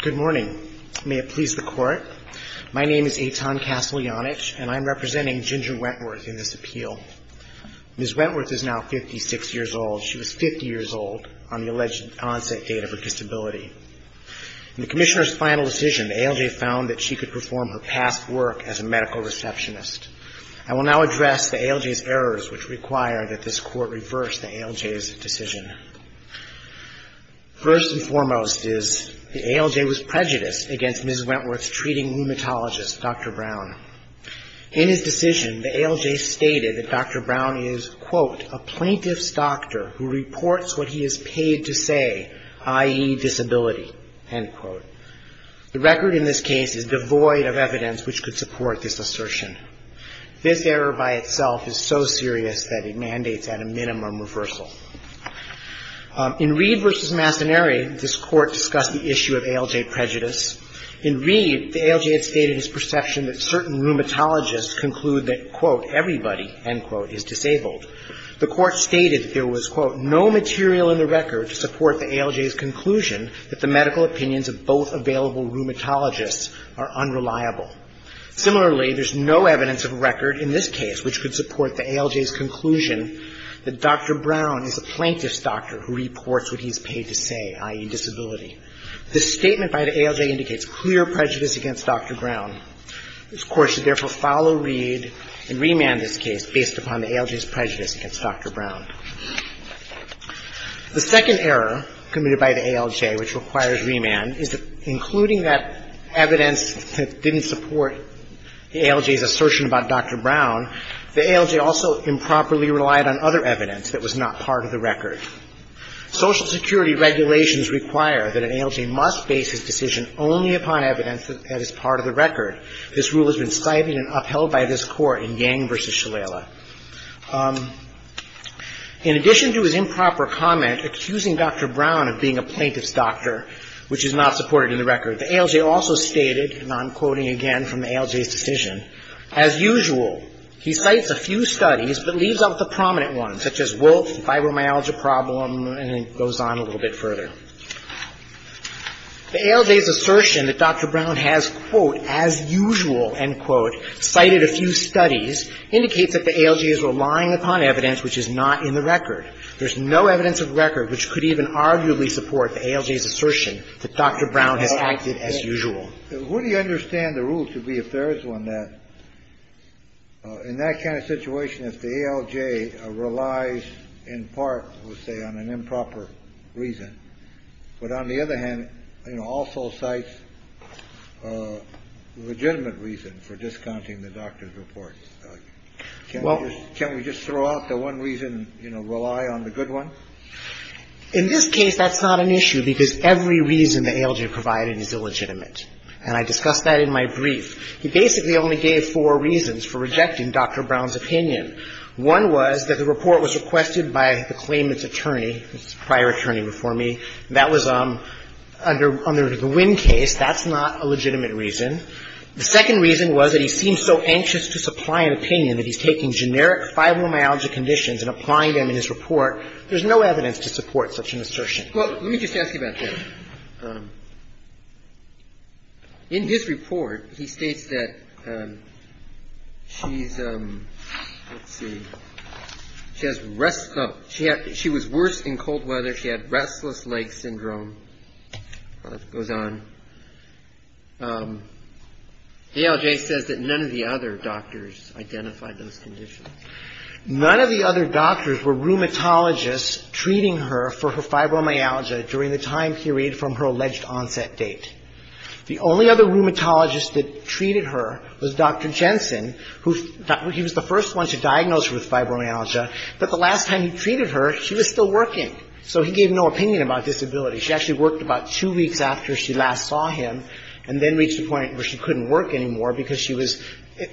Good morning. May it please the Court. My name is Eitan Casteljanich, and I'm representing Ginger Wentworth in this appeal. Ms. Wentworth is now 56 years old. She was 50 years old on the alleged onset date of her disability. In the Commissioner's final decision, the ALJ found that she could perform her past work as a medical receptionist. I will now address the ALJ's errors which require that this Court reverse the ALJ's decision. First and foremost is the ALJ was prejudiced against Ms. Wentworth's treating rheumatologist, Dr. Brown. In his decision, the ALJ stated that Dr. Brown is, quote, a plaintiff's doctor who reports what he is paid to say, i.e., disability, end quote. The record in this case is devoid of evidence which could support this assertion. This error by itself is so serious that it mandates at a minimum reversal. In Reed v. Mastaneri, this Court discussed the issue of ALJ prejudice. In Reed, the ALJ stated his perception that certain rheumatologists conclude that, quote, everybody, end quote, is disabled. The Court stated that there was, quote, no material in the record to support the ALJ's conclusion that the medical opinions of both available rheumatologists are unreliable. Similarly, there's no evidence of a record in this case which could support the ALJ's conclusion that Dr. Brown is a plaintiff's doctor who reports what he is paid to say, i.e., disability. This statement by the ALJ indicates clear prejudice against Dr. Brown. This Court should therefore follow Reed and remand this case based upon the ALJ's prejudice against Dr. Brown. The second error committed by the ALJ which requires remand is that including that evidence that didn't support the ALJ's assertion about Dr. Brown, the ALJ also improperly relied on other evidence that was not part of the record. Social Security regulations require that an ALJ must base his decision only upon evidence that is part of the record. This rule has been cited and upheld by this Court in Yang v. Shalala. In addition to his improper comment accusing Dr. Brown of being a plaintiff's doctor, which is not supported in the record, the ALJ also stated, and I'm quoting again from the ALJ's decision, as usual, he cites a few studies but leaves out the prominent ones, such as Wolfe, fibromyalgia problem, and it goes on a little bit further. The ALJ's assertion that Dr. Brown has, quote, as usual, end quote, cited a few studies indicates that the ALJ is relying upon evidence which is not in the record. There's no evidence of record which could even arguably support the ALJ's assertion that Dr. Brown has acted as usual. So who do you understand the rule to be if there is one that, in that kind of situation, if the ALJ relies in part, let's say, on an improper reason, but on the other hand, you know, also cites a legitimate reason for discounting the doctor's report, can't we just throw out the one reason, you know, rely on the good one? In this case, that's not an issue because every reason the ALJ provided is illegitimate, and I discussed that in my brief. He basically only gave four reasons for rejecting Dr. Brown's opinion. One was that the report was requested by the claimant's attorney, his prior attorney before me, and that was under the Winn case. That's not a legitimate reason. The second reason was that he seemed so anxious to supply an opinion that he's taking generic fibromyalgia conditions and applying them in his report. There's no evidence to support such an assertion. Well, let me just ask you about that. In his report, he states that she's, let's see, she was worse in cold weather. She had restless leg syndrome. It goes on. The ALJ says that none of the other doctors identified those conditions. None of the other doctors were rheumatologists treating her for her fibromyalgia during the time period from her alleged onset date. The only other rheumatologist that treated her was Dr. Jensen, who he was the first one to diagnose her with fibromyalgia. But the last time he treated her, she was still working, so he gave no opinion about disability. She actually worked about two weeks after she last saw him and then reached a point where she couldn't work anymore because she was,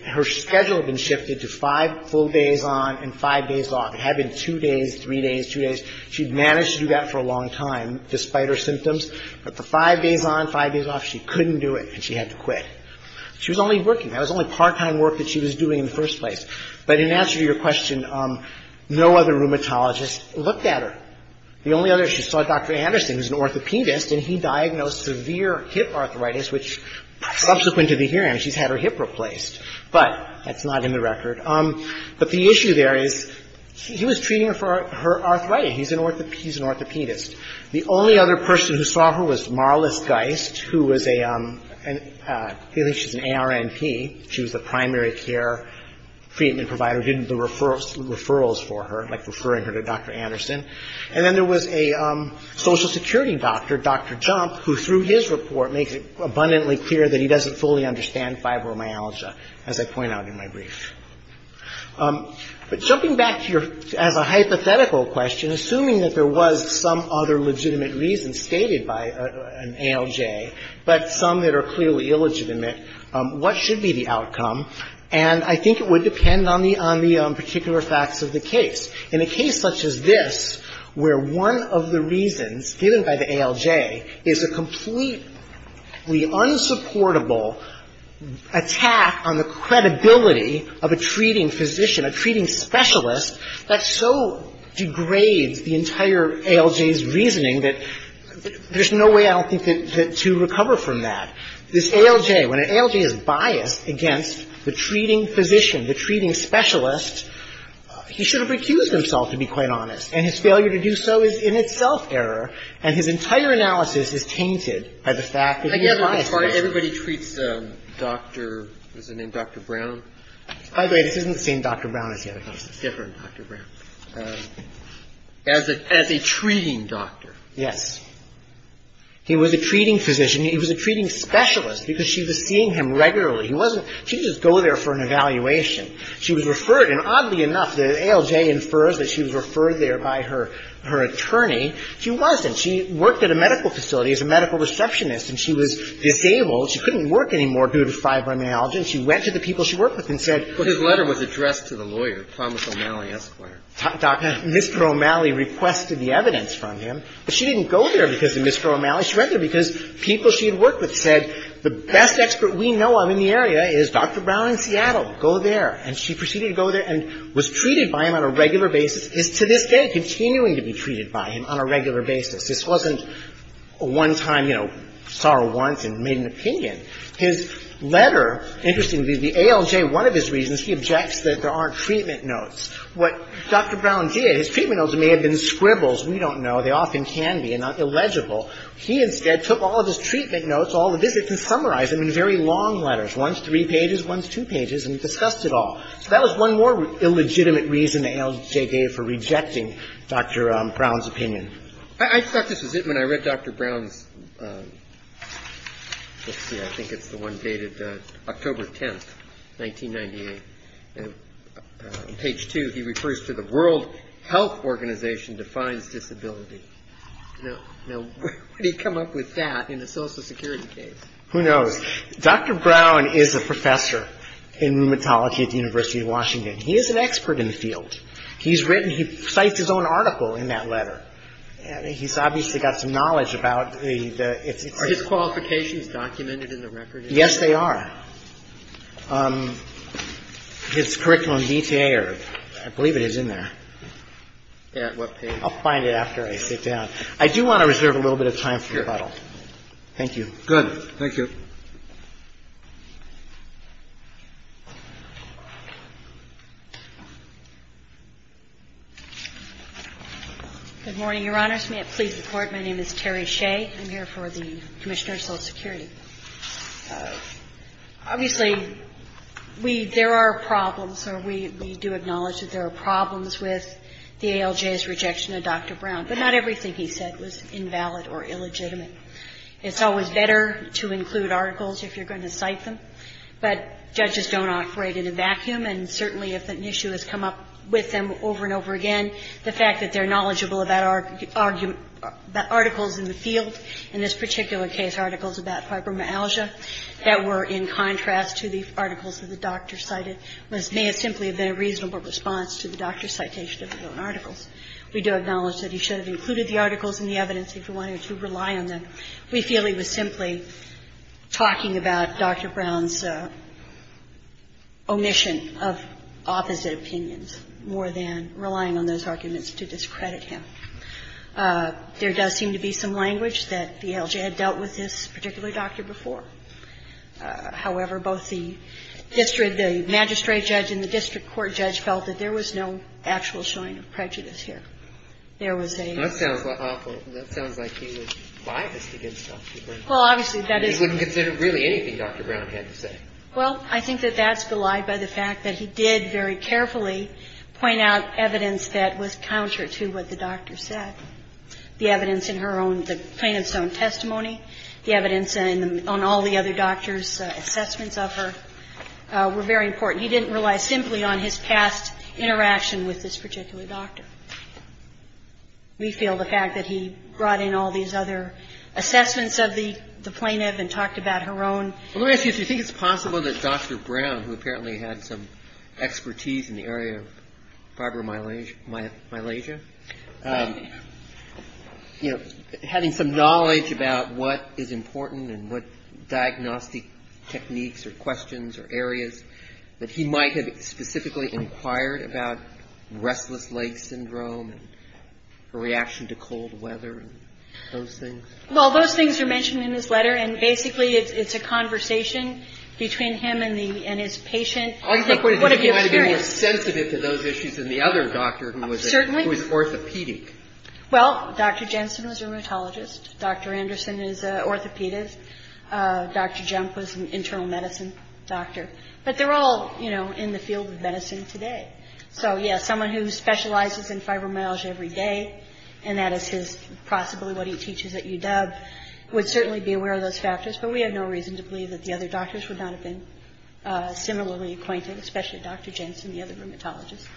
her schedule had been shifted to five full days on and five days off. It had been two days, three days, two days. She'd managed to do that for a long time, despite her symptoms. But for five days on, five days off, she couldn't do it, and she had to quit. She was only working. That was only part-time work that she was doing in the first place. But in answer to your question, no other rheumatologist looked at her. The only other she saw, Dr. Anderson, who's an orthopedist, and he diagnosed severe hip arthritis, which subsequent to the hearing, she's had her hip replaced. But that's not in the record. But the issue there is he was treating her for arthritis. He's an orthopedist. The only other person who saw her was Marlis Geist, who was a, at least she's an ARNP. She was the primary care treatment provider who did the referrals for her, like referring her to Dr. Anderson. And then there was a Social Security doctor, Dr. Jump, who through his report makes it abundantly clear that he doesn't fully understand fibromyalgia, as I point out in my brief. But jumping back to your, as a hypothetical question, assuming that there was some other legitimate reasons stated by an ALJ, but some that are clearly illegitimate, what should be the outcome? And I think it would depend on the particular facts of the case. In a case such as this, where one of the reasons given by the ALJ is a completely unsupportable attack on the credibility of a treating physician, a treating specialist, that so degrades the entire ALJ's reasoning that there's no way, I don't think, to recover from that. This ALJ, when an ALJ is biased against the treating physician, the treating specialist, he should have recused himself, to be quite honest. And his failure to do so is in itself error, and his entire analysis is tainted by the fact that he's biased against him. And yet, as far as everybody treats Dr. — what's his name? Dr. Brown? By the way, this isn't the same Dr. Brown as the other constants. Different Dr. Brown. As a — as a treating doctor. Yes. He was a treating physician. He was a treating specialist because she was seeing him regularly. He wasn't — she didn't just go there for an evaluation. She was referred — and oddly enough, the ALJ infers that she was referred there by her — her attorney. She wasn't. She worked at a medical facility as a medical receptionist, and she was disabled. She couldn't work anymore due to fibromyalgia. And she went to the people she worked with and said — But his letter was addressed to the lawyer, Thomas O'Malley, Esquire. Mr. O'Malley requested the evidence from him. But she didn't go there because of Mr. O'Malley. She went there because people she had worked with said, the best expert we know of in the area is Dr. Brown in Seattle. Go there. And she proceeded to go there and was treated by him on a regular basis. Is to this day continuing to be treated by him on a regular basis. This wasn't one time, you know, saw her once and made an opinion. His letter, interestingly, the ALJ, one of his reasons, he objects that there aren't treatment notes. What Dr. Brown did, his treatment notes may have been scribbles. We don't know. They often can be and are illegible. He instead took all of his treatment notes, all the visits, and summarized them in very long letters. One's three pages. One's two pages. And he discussed it all. So that was one more illegitimate reason the ALJ gave for rejecting Dr. Brown's opinion. I thought this was it when I read Dr. Brown's — let's see, I think it's the one dated October 10th, 1998. Page two, he refers to the World Health Organization defines disability. Now, where did he come up with that in the Social Security case? Who knows? Dr. Brown is a professor in rheumatology at the University of Washington. He is an expert in the field. He's written — he cites his own article in that letter. He's obviously got some knowledge about the — Are his qualifications documented in the record? Yes, they are. His curriculum DTA or — I believe it is in there. At what page? I'll find it after I sit down. I do want to reserve a little bit of time for rebuttal. Sure. Thank you. Good. Thank you. Good morning, Your Honors. May it please the Court, my name is Terry Shea. I'm here for the Commissioner of Social Security. Obviously, we — there are problems, or we do acknowledge that there are problems with the ALJ's rejection of Dr. Brown. But not everything he said was invalid or illegitimate. It's always better to include articles if you're going to cite them. But judges don't operate in a vacuum, and certainly if an issue has come up with them over and over again, the fact that they're knowledgeable about articles in the field, in this particular case articles about fibromyalgia that were in contrast to the articles that the doctor cited may have simply been a reasonable response to the doctor's citation of his own articles. We do acknowledge that he should have included the articles in the evidence if he wanted to rely on them. We feel he was simply talking about Dr. Brown's omission of opposite opinions more than relying on those arguments to discredit him. There does seem to be some language that the ALJ had dealt with this particular doctor before. However, both the district — the magistrate judge and the district court judge felt that there was no actual showing of prejudice here. There was a — That sounds awful. That sounds like he was biased against Dr. Brown. Well, obviously, that is — He wouldn't consider really anything Dr. Brown had to say. Well, I think that that's belied by the fact that he did very carefully point out counter to what the doctor said. The evidence in her own — the plaintiff's own testimony, the evidence on all the other doctor's assessments of her were very important. He didn't rely simply on his past interaction with this particular doctor. We feel the fact that he brought in all these other assessments of the plaintiff and talked about her own — Well, let me ask you this. Do you think it's possible that Dr. Brown, who apparently had some expertise in the area of fibromyalgia, you know, having some knowledge about what is important and what diagnostic techniques or questions or areas that he might have specifically inquired about restless leg syndrome and her reaction to cold weather and those things? Well, those things are mentioned in his letter, and basically it's a conversation between him and his patient. All you have to point out is that he might have been more sensitive to those issues than the other doctor who was orthopedic. Certainly. Well, Dr. Jensen was a rheumatologist. Dr. Anderson is an orthopedist. Dr. Junk was an internal medicine doctor. But they're all, you know, in the field of medicine today. So, yes, someone who specializes in fibromyalgia every day, and that is possibly what he teaches at UW, would certainly be aware of those factors, but we have no reason to believe that the other doctors would not have been similarly acquainted, especially Dr. Jensen, the other rheumatologist.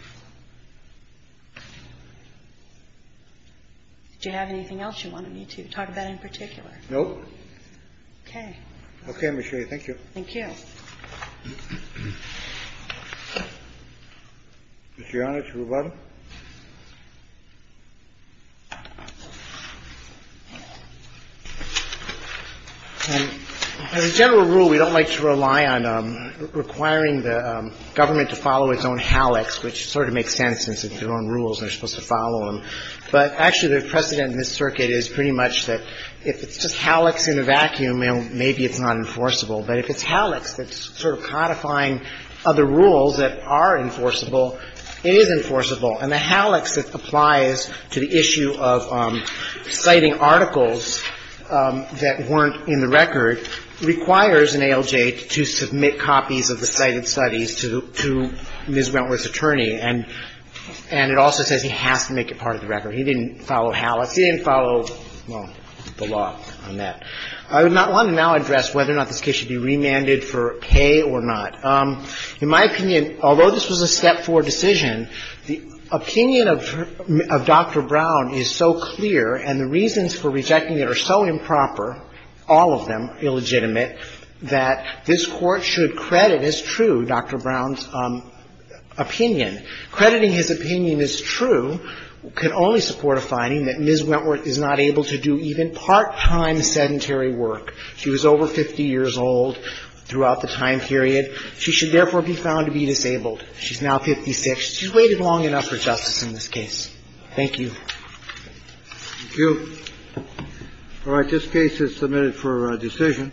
Do you have anything else you wanted me to talk about in particular? No. Okay. Okay. Let me show you. Thank you. Mr. Yonashirobata. As a general rule, we don't like to rely on requiring the government to follow its own hallux, which sort of makes sense since it's their own rules and they're supposed to follow them. But actually, the precedent in this circuit is pretty much that if it's just hallux in a vacuum, maybe it's not enforceable. But if it's hallux that's sort of codifying other rules that are enforceable, it is enforceable. And the hallux that applies to the issue of citing articles that weren't in the record requires an ALJ to submit copies of the cited studies to Ms. Wentworth's attorney, and it also says he has to make it part of the record. He didn't follow hallux. He didn't follow, well, the law on that. I would want to now address whether or not this case should be remanded for pay or not. In my opinion, although this was a Step 4 decision, the opinion of Dr. Brown is so clear and the reasons for rejecting it are so improper, all of them illegitimate, that this Court should credit as true Dr. Brown's opinion. Crediting his opinion as true can only support a finding that Ms. Wentworth is not able to do even part-time sedentary work. She was over 50 years old throughout the time period. She should therefore be found to be disabled. She's now 56. She's waited long enough for justice in this case. Thank you. Thank you. All right. This case is submitted for decision.